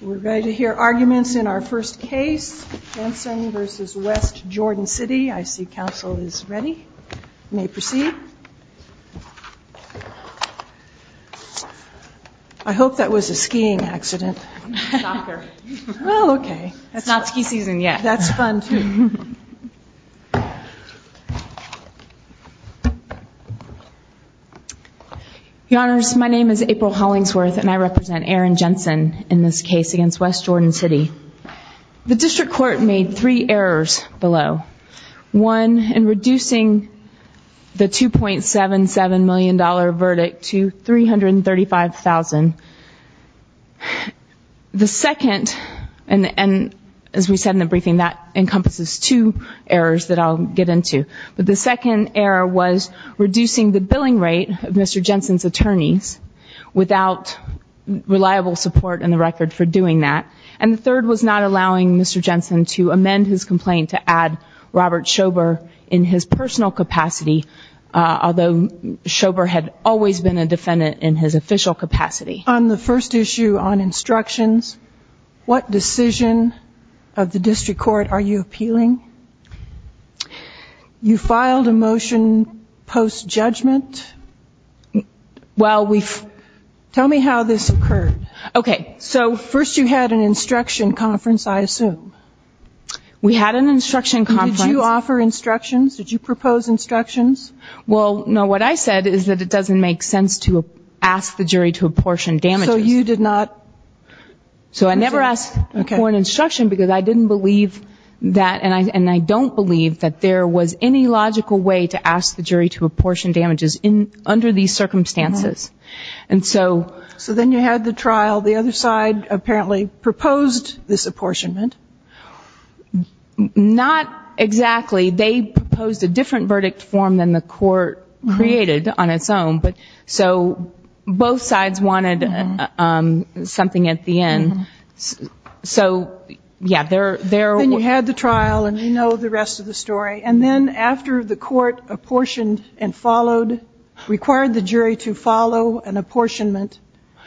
We're ready to hear arguments in our first case, Jensen v. West Jordan City. I see council is ready. You may proceed. I hope that was a skiing accident. Well, okay. That's not ski season yet. That's fun too. Your Honors, my name is April Hollingsworth and I represent Aaron in this case against West Jordan City. The district court made three errors below. One, in reducing the $2.77 million verdict to $335,000. The second, and as we said in the briefing that encompasses two errors that I'll get into, but the second error was reducing the and the third was not allowing Mr. Jensen to amend his complaint to add Robert Schober in his personal capacity, although Schober had always been a defendant in his official capacity. On the first issue on instructions, what decision of the district court are you appealing? You filed a motion post-judgment. Tell me how this occurred. Okay. So first you had an instruction conference, I assume. We had an instruction conference. Did you offer instructions? Did you propose instructions? Well, no. What I said is that it doesn't make sense to ask the jury to apportion damages. So you did not? So I never asked for an instruction because I didn't believe that and I don't believe that there was any logical way to ask the jury to apportion damages under these circumstances. So then you had the trial. The other side apparently proposed this apportionment. Not exactly. They proposed a different verdict form than the court created on its own. So both sides wanted something at the end. So, yeah, there were Then you had the trial and we know the rest of the story. And then after the court apportioned and followed, required the jury to follow an apportionment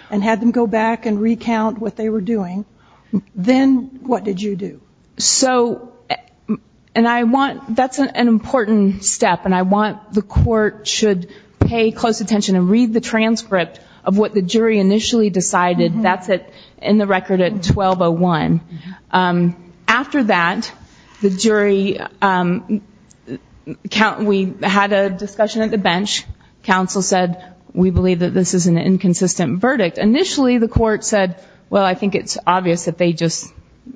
and had them go back and recount what they were doing, then what did you do? So, and I want, that's an important step and I want the court should pay close attention and read the transcript of what the jury initially decided. That's it in the record at 12-01. After that, the jury, we had a discussion at the bench. Counsel said we believe that this is an inconsistent verdict. Initially, the court said, well, I think it's obvious that they just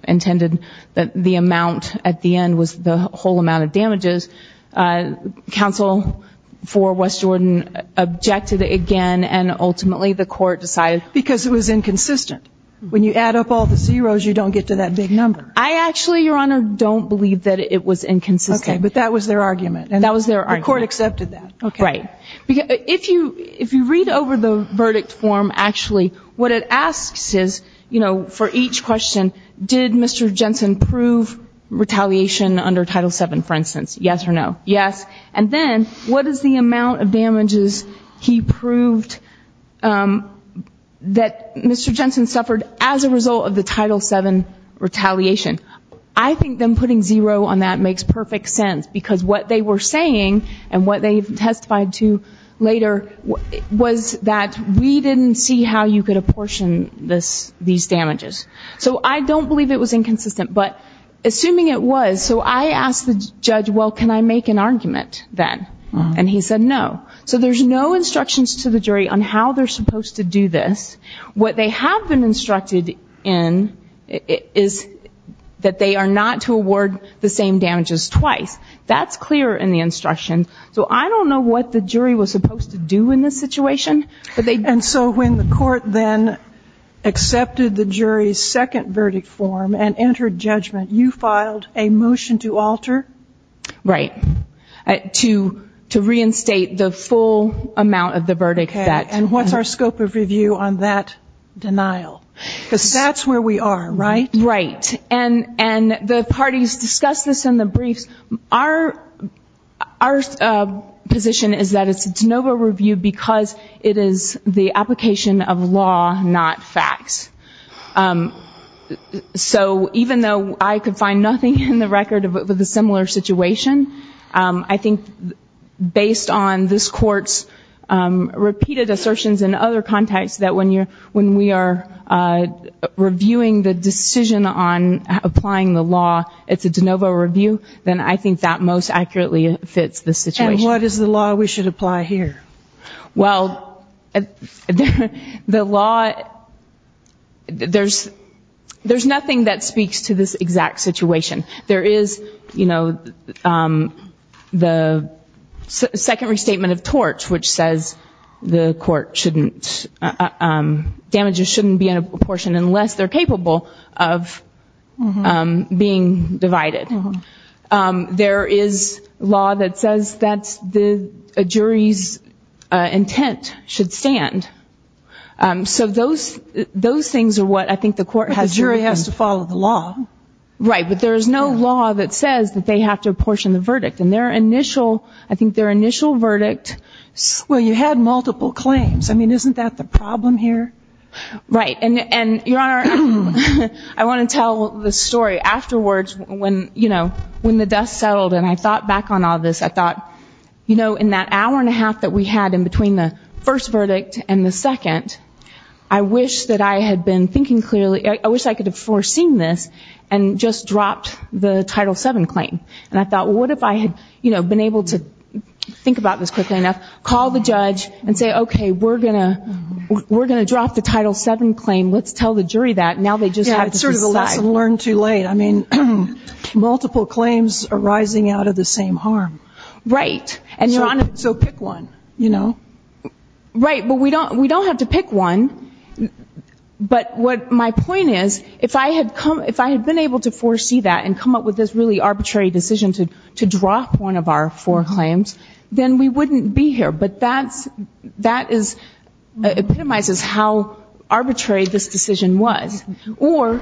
intended that the amount at the end was the whole amount of damages. Counsel for West Jordan objected again and ultimately the court decided Because it was inconsistent. When you add up all the zeros, you don't get to that big number. I actually, Your Honor, don't believe that it was inconsistent. Okay, but that was their argument. That was their argument. The court accepted that. Right. If you read over the verdict form actually, what it asks is, you know, for each question, did Mr. Jensen prove retaliation under Title VII, for instance? Yes or no? Yes. And then what is the amount of damages he proved that Mr. Jensen suffered as a result of the Title VII retaliation? I think them putting zero on that makes perfect sense because what they were saying and what they testified to later was that we didn't see how you could apportion these damages. So I don't believe it was inconsistent. But assuming it was, so I asked the judge, well, can I make an argument then? And he said no. So there's no instructions to the jury on how they're supposed to do this. What they have been instructed in is that they are not to award the same damages twice. That's clear in the instruction. So I don't know what the jury was supposed to do in this situation. And so when the court then accepted the jury's second verdict form and entered judgment, you filed a motion to alter? Right. To reinstate the full amount of the verdict. Okay. And what's our scope of review on that denial? Because that's where we are, right? Right. And the parties discussed this in the briefs. Our position is that it's a de novo review because it is the application of law, not facts. So even though I could find nothing in the record of a similar situation, I think based on this court's repeated assertions in other contexts that when we are reviewing the decision on applying the law, it's a de novo review, then I think that most accurately fits the situation. And what is the law we should apply here? Well, the law, there's you know, the second restatement of tort which says the court shouldn't, damages shouldn't be in a proportion unless they're capable of being divided. There is law that says that the jury's intent should stand. So those things are what I think the court has to do. But there's no law that says that they have to apportion the verdict. And their initial, I think their initial verdict. Well, you had multiple claims. I mean, isn't that the problem here? Right. And Your Honor, I want to tell the story afterwards when, you know, when the dust settled and I thought back on all this, I thought, you know, in that hour and a half that we had in between the first verdict and the second, I wish that I had been thinking clearly, I wish I could have foreseen this and just dropped the Title VII claim. And I thought, what if I had, you know, been able to think about this quickly enough, call the judge and say, okay, we're going to drop the Title VII claim, let's tell the jury that and now they just have to decide. Yeah, it's sort of a lesson learned too late. I mean, multiple claims arising out of the same harm. Right. And Your Honor. So pick one, you know. Right. But we don't have to pick one. But what my point is, if I had come, if I had been able to foresee that and come up with this really arbitrary decision to drop one of our four claims, then we wouldn't be here. But that's, that is, epitomizes how arbitrary this decision was. Or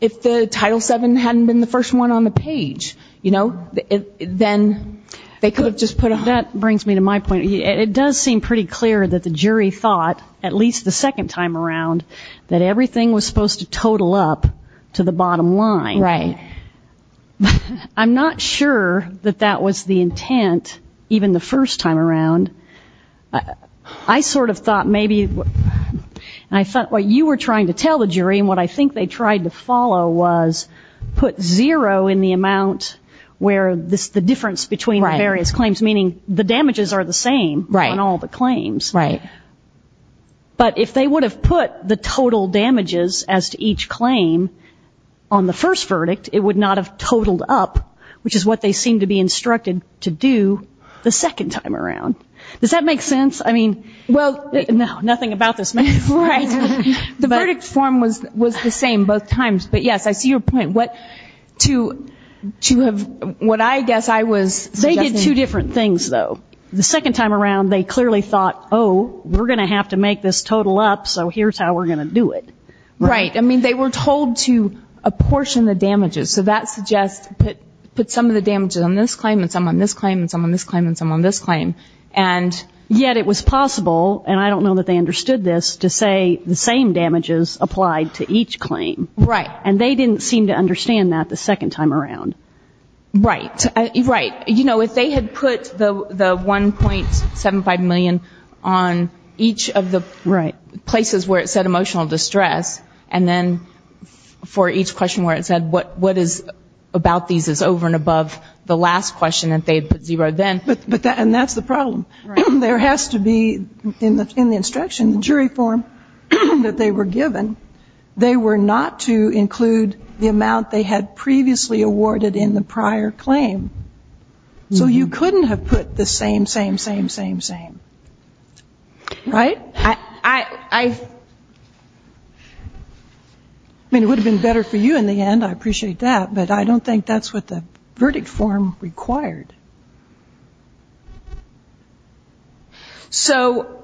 if the Title VII hadn't been the first one on the page, you know, then they could have just put a That brings me to my point. It does seem pretty clear that the jury thought, at least the second time around, that everything was supposed to total up to the bottom line. Right. I'm not sure that that was the intent, even the first time around. I sort of thought maybe you were trying to tell the jury and what I think they tried to follow was put zero in the amount where this, the difference between the various claims, meaning the damages are the same on all the claims. Right. But if they would have put the total damages as to each claim on the first verdict, it would not have totaled up, which is what they seem to be instructed to do the second time around. Does that make sense? I mean, well, no, nothing about this matter. Right. The verdict form was the same both times. But, yes, I see your point. What to have, what I guess I was They did two different things, though. The second time around they clearly thought, oh, we're going to have to make this total up, so here's how we're going to do it. Right. I mean, they were told to apportion the damages. So that suggests put some of the damages on this claim and some on this claim and some on this claim and some on this claim. And they didn't seem to understand that the second time around. Right. Right. You know, if they had put the 1.75 million on each of the places where it said emotional distress and then for each question where it said what is about these is over and above the last question that they had put zero then. And that's the problem. There has to be in the instruction, the jury form that they were given, they were not to include the amount they had previously awarded in the prior claim. So you couldn't have put the same, same, same, same, same. Right? I mean, it would have been better for you in the end. I appreciate that. But I don't think that's what the verdict form required. So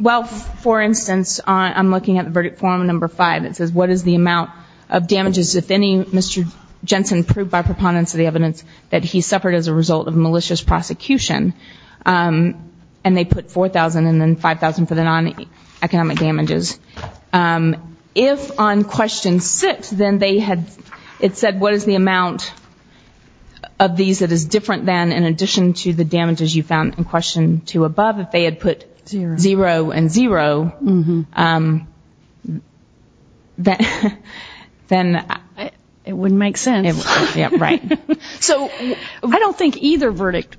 well, for instance, I'm looking at verdict form number five. It says what is the amount of damages if any Mr. Jensen proved by preponderance of the evidence that he suffered as a result of malicious prosecution. And they put 4,000 and then 5,000 for the non-economic damages. If on question six, then they had, it said what is the amount of these that is different than in addition to the damages you found in question two above, if they had put zero and zero, then it wouldn't make sense. Right. So I don't think either verdict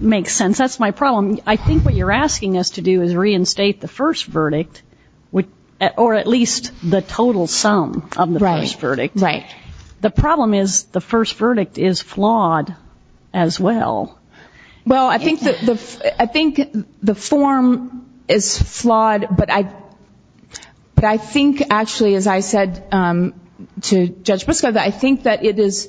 makes sense. That's my problem. I think what you're saying is that you can't state the first verdict or at least the total sum of the first verdict. Right. The problem is the first verdict is flawed as well. Well, I think the form is flawed, but I think actually, as I said to Judge Briscoe, I think that it is,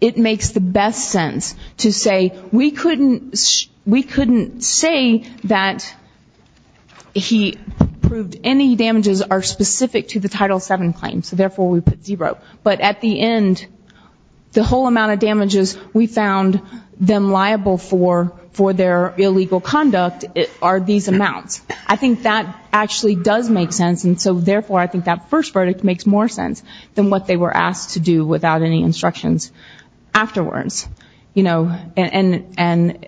it makes the best sense to say we couldn't say that he proved any damages are specific to the Title VII claim, so therefore we put zero. But at the end, the whole amount of damages we found them liable for for their illegal conduct are these amounts. I think that actually does make sense, and so therefore I think that first verdict makes more sense than what they were asked to do without any instructions afterwards. And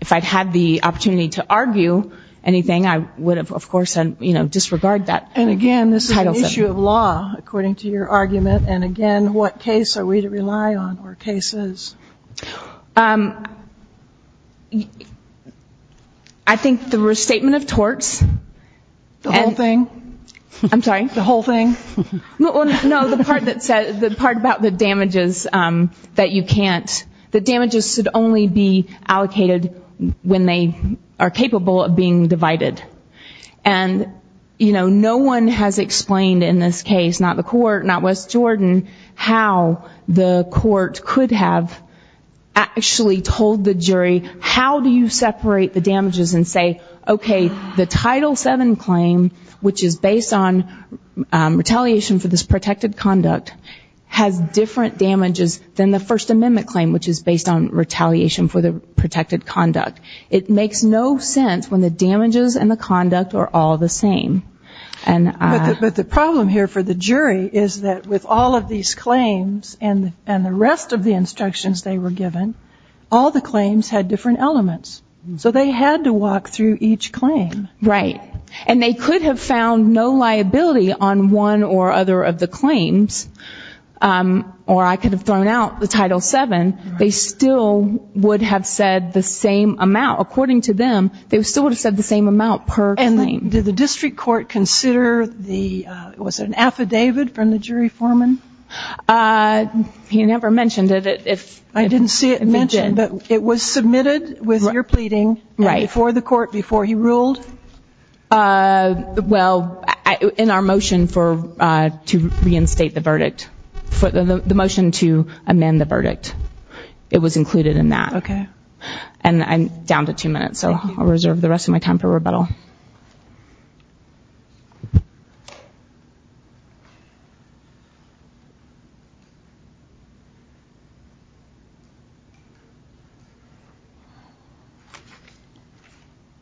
if I'd had the opportunity to argue anything, I would have, of course, disregard that Title VII. And again, this is an issue of law, according to your argument, and again, what case are we to rely on or cases? I think the restatement of torts. The whole thing? I'm sorry? The whole thing? No, the part that says, the part about the damages that you can't, the damages should only be allocated when they are capable of being divided. And, you know, no one has explained in this case, not the court, not West Jordan, how the court could have actually told the jury how do you separate the damages and say, okay, the Title VII claim, which is based on retaliation for this protected conduct, has different damages than the First Amendment claim, which is based on retaliation for the protected conduct. It makes no sense when the damages and the conduct are all the same. But the problem here for the jury is that with all of these claims and the rest of the instructions they were given, all the claims had different elements. So they had to walk through each claim. Right. And they could have found no liability on one or other of the claims, or I could have thrown out the Title VII, they still would have said the same amount. According to them, they still would have said the same amount per claim. And did the district court consider the, was it an affidavit from the jury foreman? He never mentioned it. I didn't see it mentioned, but it was submitted with your pleading before the court, before he ruled? Well, in our motion for, to reinstate the verdict, the motion to amend the verdict, it was included in that. And I'm down to two minutes, so I'll reserve the rest of my time for rebuttal.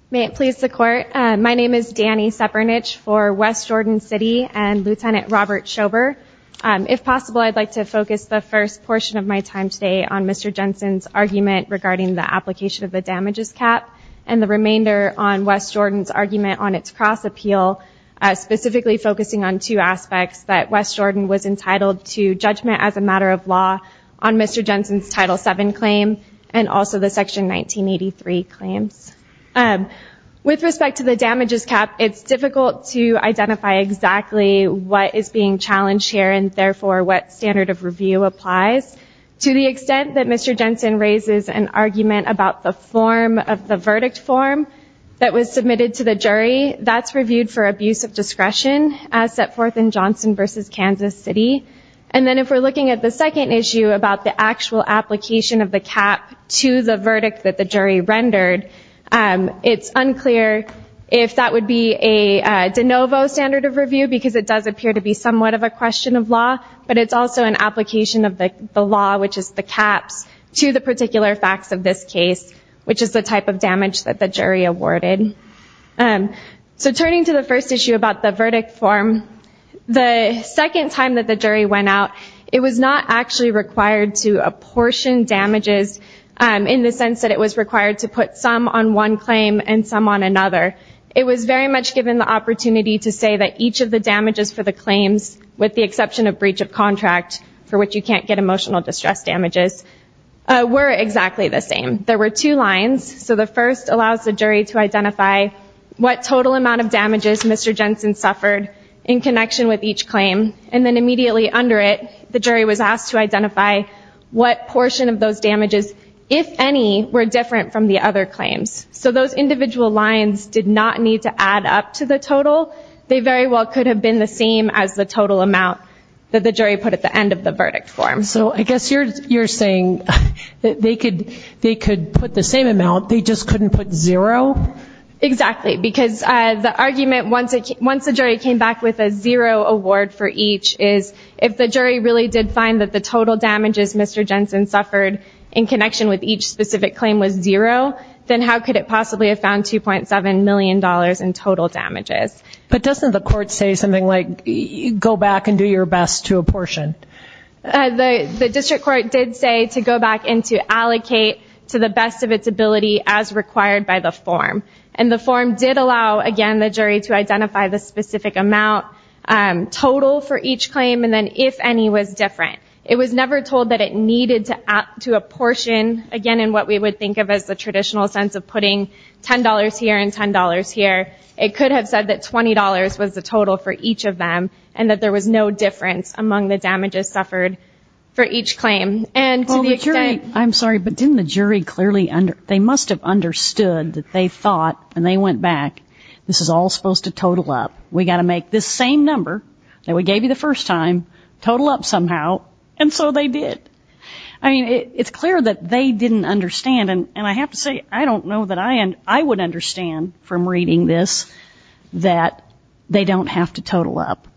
May it please the court. My name is Dani Sepernich for West Jordan City and Lieutenant Robert Schober. If possible, I'd like to focus the first portion of my time today on Mr. Jensen's argument regarding the application of the damages cap and the remainder on West Jordan's argument on its cross appeal, specifically focusing on two aspects, that West Jordan was entitled to judgment as a matter of law on Mr. Jensen's Title VII claim and also the Section 1983 claims. With respect to the damages cap, it's difficult to identify exactly what is being challenged here and therefore what standard of review applies. To the extent that Mr. Jensen raises an argument about the form of the verdict form that was submitted to the jury, that's reviewed for abuse of discretion as set forth in Johnson v. Kansas City. And then if we're looking at the second issue about the actual application of the cap to the verdict that the jury rendered, it's unclear if that would be a de novo standard of review because it does appear to be somewhat of a question of law, but it's also an application of the law, which is the caps, to the particular facts of this case, which is the type of damage that the jury awarded. So turning to the first issue about the verdict form, the second time that the jury went out, it was not actually required to apportion damages in the sense that it was required to put some on one claim and some on another. It was very much given the opportunity to say that each of the damages for the claims, with the exception of breach of contract, for which you can't get emotional distress damages, were exactly the same. There were two lines. So the first allows the jury to identify what total amount of damages Mr. Jensen suffered in connection with each claim, and then immediately under it, the jury was asked to identify what portion of those damages, if any, were different from the other claims. So those individual lines did not need to add up to the total. They very well could have been the same as the total amount that the jury put at the end of the verdict form. So I guess you're saying that they could put the same amount, they just couldn't put zero? Exactly. Because the argument, once the jury came back with a zero award for each, is if the jury really did find that the total damages Mr. Jensen suffered in connection with each specific claim was zero, then how could it possibly have found $2.7 million in total damages? But doesn't the court say something like, go back and do your best to apportion? The district court did say to go back and to allocate to the best of its ability as required by the form. And the form did allow, again, the jury to identify the specific amount total for each claim, and then if any was different. It was never told that it needed to add to a portion, again in what we would think of as the traditional sense of putting $10 here and $10 here. It could have said that $20 was the total for each of them, and that there was no difference among the damages suffered for each claim. Well the jury, I'm sorry, but didn't the jury clearly, they must have understood that they thought, when they went back, this is all supposed to total up. We've got to make this same number that we gave you the first time total up somehow. And so they did. I mean, it's clear that they didn't understand. And I have to say, I don't know that I would understand from reading this that they don't have to total up.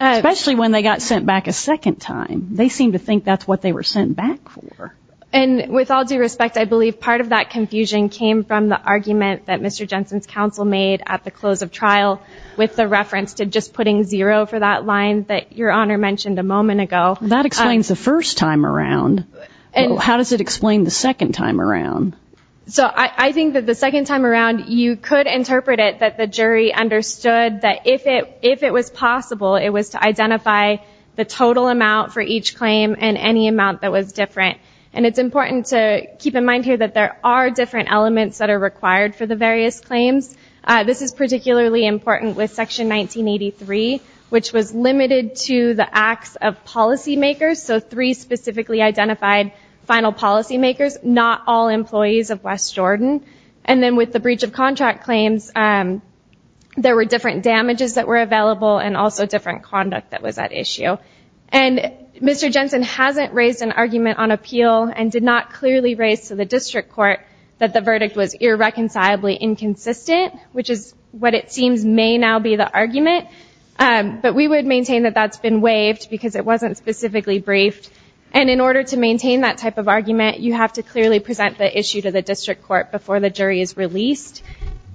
Especially when they got sent back a second time. They seem to think that's what they were sent back for. And with all due respect, I believe part of that confusion came from the argument that Mr. Jensen's counsel made at the close of trial with the reference to just putting zero for that line that Your Honor mentioned a moment ago. That explains the first time around. How does it explain the second time around? So I think that the second time around, you could interpret it that the jury understood that if it was possible, it was to identify the total amount for each claim and any amount that was different. And it's important to keep in mind here that there are different elements that are required for the various claims. This is particularly important with policy makers. So three specifically identified final policy makers, not all employees of West Jordan. And then with the breach of contract claims, there were different damages that were available and also different conduct that was at issue. And Mr. Jensen hasn't raised an argument on appeal and did not clearly raise to the district court that the verdict was irreconcilably inconsistent, which is what it seems may now be the argument. But we would maintain that that's been waived because it wasn't specifically briefed. And in order to maintain that type of argument, you have to clearly present the issue to the district court before the jury is released.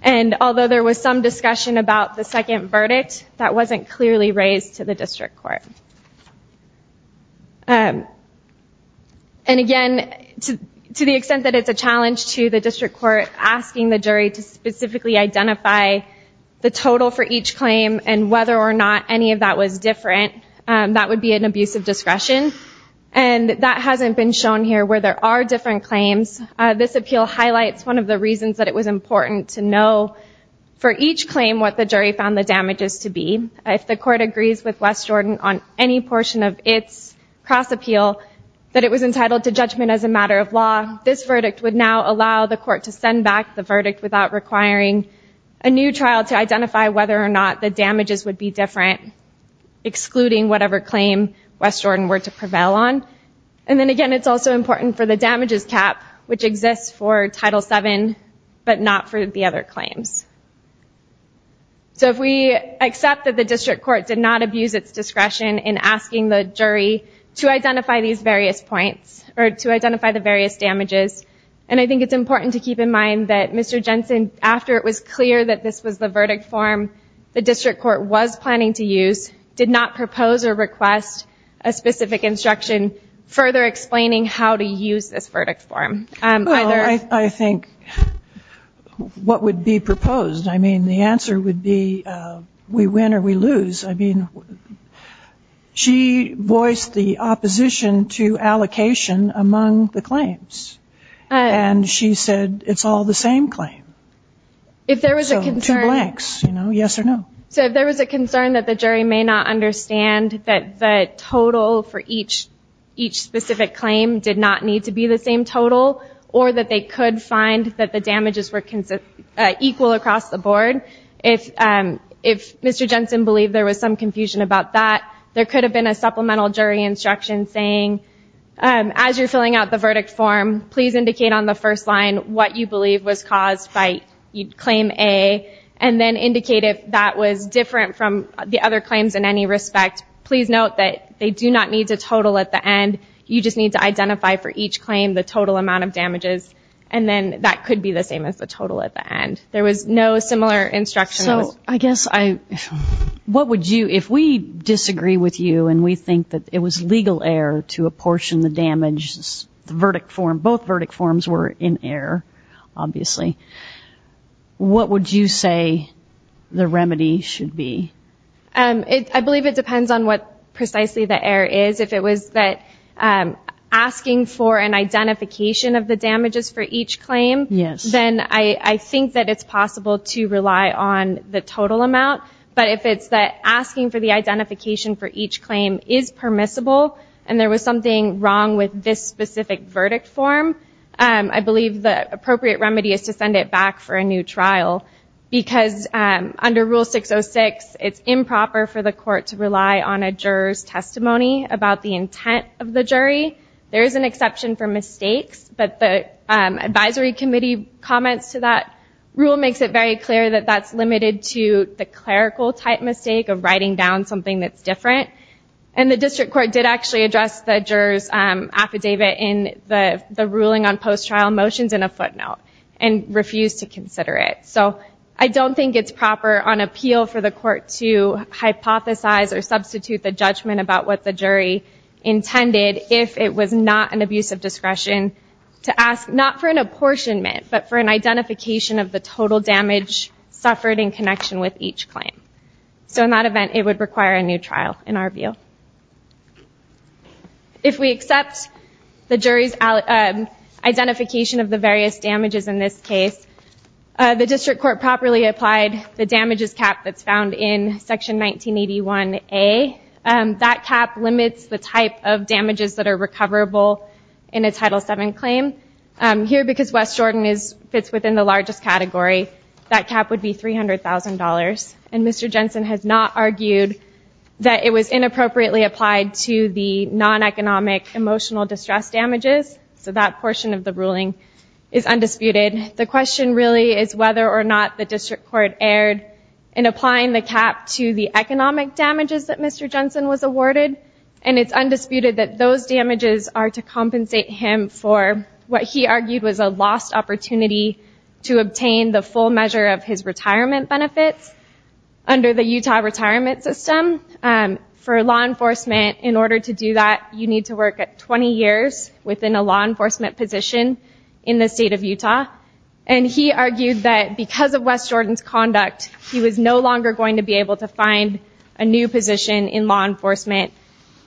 And although there was some discussion about the second verdict, that wasn't clearly raised to the district court. And again, to the extent that it's a challenge to the district court asking the jury to specifically identify the total for each claim and whether or not any of that was different, that would be an abuse of discretion. And that hasn't been shown here where there are different claims. This appeal highlights one of the reasons that it was important to know for each claim what the jury found the damages to be. If the court agrees with West Jordan on any portion of its cross appeal that it was entitled to judgment as a matter of law, this verdict would now allow the court to send back the verdict without requiring a new trial to identify whether or not the damages would be different, excluding whatever claim West Jordan were to prevail on. And then again, it's also important for the damages cap, which exists for Title VII, but not for the other claims. So if we accept that the district court did not abuse its discretion in asking the jury to identify these various points or to identify the various damages, and I think it's important to keep in mind that Mr. Jensen, after it was clear that this was the verdict form the district court was planning to use, did not propose or request a specific instruction further explaining how to use this verdict form. I think what would be proposed, I mean, the answer would be we win or we lose. I mean, she voiced the opposition to allocation among the claims. And she said it's all the same claim. So two blanks, you know, yes or no. So if there was a concern that the jury may not understand that the total for each specific claim did not need to be the same total, or that they could find that the damages were equal across the board, if Mr. Jensen believed there was some confusion about that, there could have been a supplemental jury instruction saying, as you're filling out the verdict form, please indicate on the first line what you believe was caused by claim A, and then indicate if that was different from the other claims in any respect. Please note that they do not need to total at the end. You just need to identify for each claim the total amount of damages, and then that could be the same as the total at the end. There was no similar instruction. So I guess I, what would you, if we disagree with you and we think that it was legal error to apportion the damages, the verdict form, both verdict forms were in error, obviously, what would you say the remedy should be? I believe it depends on what precisely the error is. If it was that asking for an identification of the damages for each claim, then I think that it's possible to rely on the total amount, but if it's that asking for the identification for each claim is permissible, and there was something wrong with this specific verdict form, I believe the appropriate remedy is to send it back for a new trial, because under Rule 606, it's improper for the court to rely on a juror's testimony about the intent of the jury. There is an exception for mistakes, but the advisory committee comments to that rule makes it very clear that that's limited to the clerical-type mistake of writing down something that's different, and the district court did actually address the juror's affidavit in the ruling on post-trial motions in a footnote, and refused to consider it. So I don't think it's proper on appeal for the court to hypothesize or substitute the judgment about what the jury intended if it was not an abuse of discretion to ask, not for an apportionment, but for an identification of the total damage suffered in connection with each claim. So in that event, it would require a new trial, in our cases, in this case. The district court properly applied the damages cap that's found in Section 1981A. That cap limits the type of damages that are recoverable in a Title VII claim. Here, because West Jordan fits within the largest category, that cap would be $300,000, and Mr. Jensen has not argued that it was inappropriately applied to the non-economic emotional distress damages, so that portion of the ruling is undisputed. The question really is whether or not the district court erred in applying the cap to the economic damages that Mr. Jensen was awarded, and it's undisputed that those damages are to compensate him for what he argued was a lost opportunity to obtain the full measure of his retirement benefits under the Utah retirement system. For law enforcement, in order to do that, you need to work at 20 years within a law enforcement position in the state of Utah, and he argued that because of West Jordan's conduct, he was no longer going to be able to find a new position in law enforcement,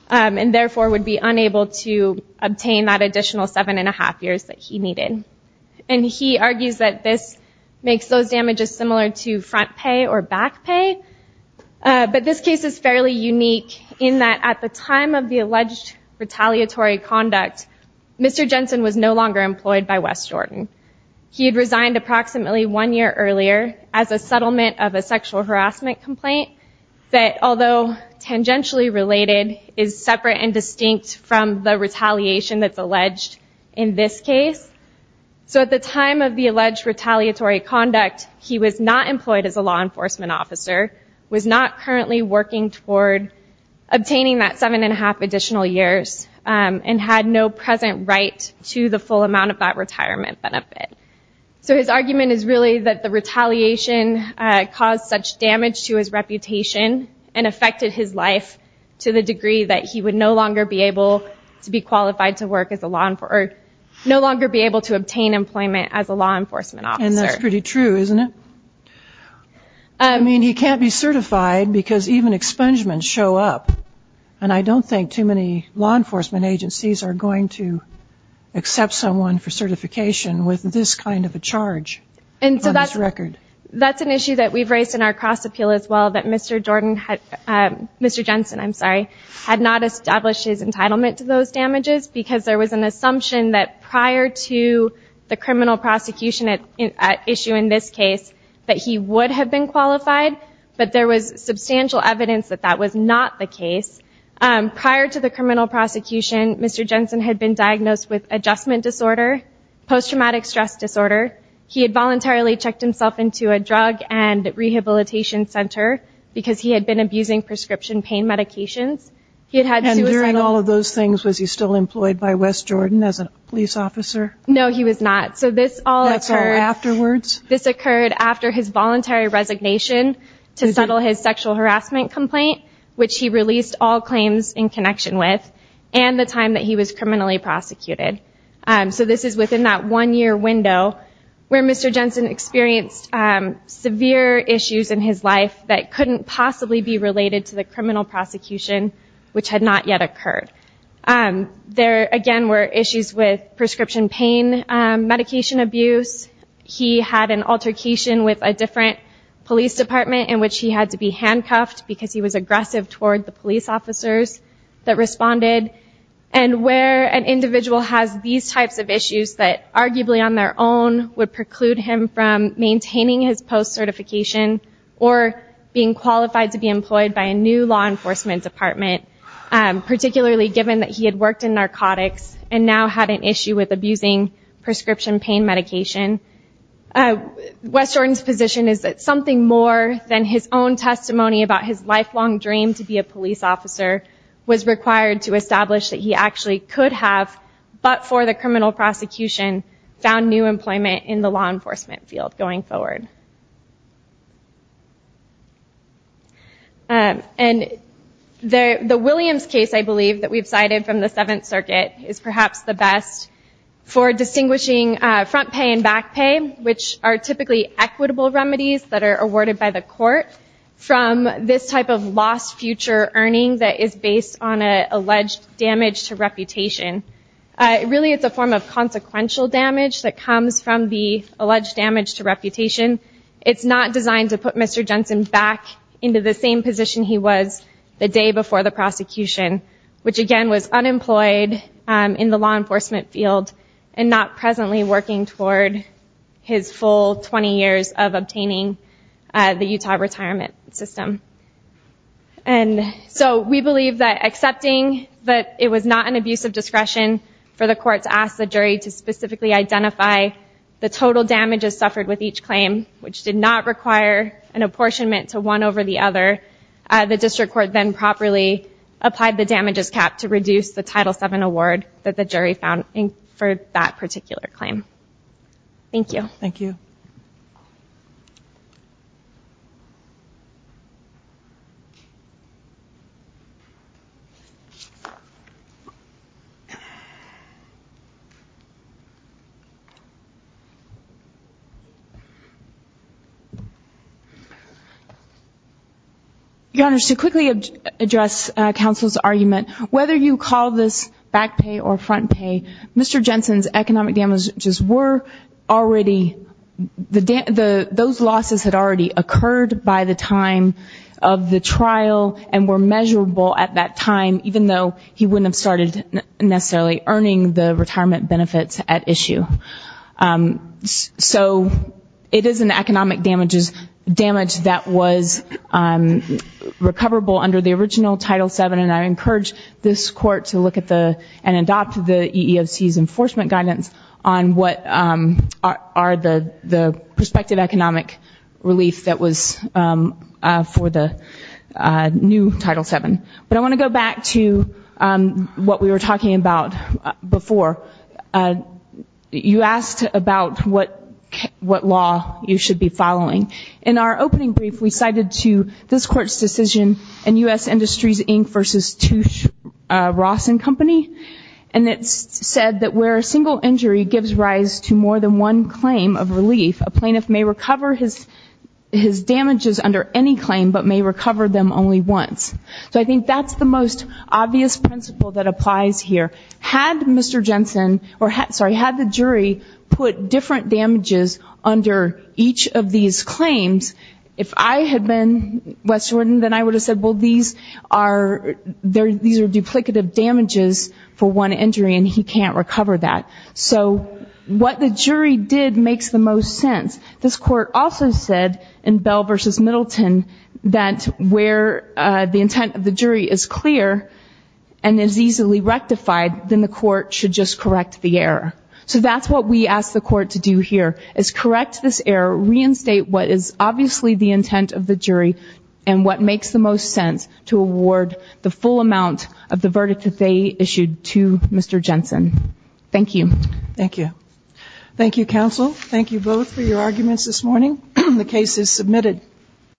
and therefore would be unable to obtain that additional seven and a half years that he needed. He argues that this makes those damages similar to front pay or back pay, but this case is fairly unique in that at the time of the alleged retaliatory conduct, Mr. Jensen was no longer employed by West Jordan. He had resigned approximately one year earlier as a settlement of a sexual harassment complaint that although tangentially related, is separate and distinct from the retaliation that's alleged in this case, so at the time of the alleged retaliatory conduct, he was not employed as a law enforcement officer, was not currently working toward obtaining that seven and a half additional years, and had no present right to the full amount of that retirement benefit. So his argument is really that the retaliation caused such damage to his reputation and affected his life to the degree that he would no longer be able to be qualified to work as a law, or no longer be able to obtain employment as a law enforcement officer. That's pretty true, isn't it? I mean, he can't be certified because even expungements show up, and I don't think too many law enforcement agencies are going to accept someone for certification with this kind of a charge on his record. That's an issue that we've raised in our cross appeal as well, that Mr. Jensen had not established his entitlement to those damages because there was an assumption that prior to the criminal prosecution issue in this case, that he would have been qualified, but there was substantial evidence that that was not the case. Prior to the criminal prosecution, Mr. Jensen had been diagnosed with adjustment disorder, post-traumatic stress disorder. He had voluntarily checked himself into a drug and rehabilitation center because he had been abusing prescription pain medications. He had had suicidal... And during all of those things, was he still employed by West Jordan as a police officer? No, he was not. So this all occurred... That's all afterwards? This occurred after his voluntary resignation to settle his sexual harassment complaint, which he released all claims in connection with, and the time that he was criminally prosecuted. So this is within that one-year window where Mr. Jensen experienced severe issues in his life that couldn't possibly be related to the criminal prosecution, which had not yet occurred. There, again, were issues with prescription pain medication abuse. He had an altercation with a different police department in which he had to be handcuffed because he was aggressive toward the police officers that responded. And where an individual has these types of issues that arguably on their own would preclude him from maintaining his post-certification or being qualified to be employed by a new law enforcement department, particularly given that he had worked in narcotics and now had an issue with abusing prescription pain medication. West Jordan's position is that something more than his own testimony about his lifelong dream to be a police officer was required to establish that he actually could have, but for the criminal prosecution, found new employment in the law enforcement field going forward. And the Williams case, I believe, that we've cited from the Seventh Circuit is perhaps the best for distinguishing front pay and back pay, which are typically equitable remedies that are awarded by the court, from this type of lost future earning that is based on an alleged damage to reputation. Really, it's a form of consequential damage that comes from the alleged damage to reputation. It's not designed to put Mr. Jensen back into the same position he was the day before the prosecution, which again was unemployed in the law enforcement field and not presently working toward his full 20 years of obtaining the Utah retirement system. And so we believe that accepting that it was not an abuse of discretion for the court to allow the jury to specifically identify the total damages suffered with each claim, which did not require an apportionment to one over the other, the district court then properly applied the damages cap to reduce the Title VII award that the jury found for that particular claim. Thank you. Thank you. Your Honor, to quickly address counsel's argument, whether you call this back pay or front pay, Mr. Jensen's economic damages were already, those losses had already occurred by the time of the trial and were measurable at that time, even though he wouldn't have started necessarily earning the retirement benefits at issue. So it is an economic damage that was recoverable under the original Title VII, and I encourage this court to look at the, and adopt the EEOC's enforcement guidance on what are the prospective economic relief that was for the new Title VII. But I want to go back to what we were talking about before. You asked about what law you should be following. In our opening brief, we cited to this court's decision in U.S. Industries, Inc. v. Touche, Ross & Company, and it said that where a single injury gives rise to more than one claim of relief, a plaintiff may recover his damages under any claim but may recover them only once. So I think that's the most obvious principle that applies here. Had Mr. Jensen, or sorry, had the jury put different damages under each of these claims, if I had been West Jordan, then I would have said, well, these are duplicative damages for one injury and he can't recover that. So what the jury did makes the most sense. This court also said in Bell v. Middleton that where the intent of the jury is clear and is easily rectified, then the court should just correct the error. So that's what we ask the court to do here, is correct this error, reinstate what is obviously the intent of the jury, and what makes the most sense to award the full amount of the verdict that they issued to Mr. Jensen. Thank you. Thank you, counsel. Thank you both for your arguments this morning. The case is submitted.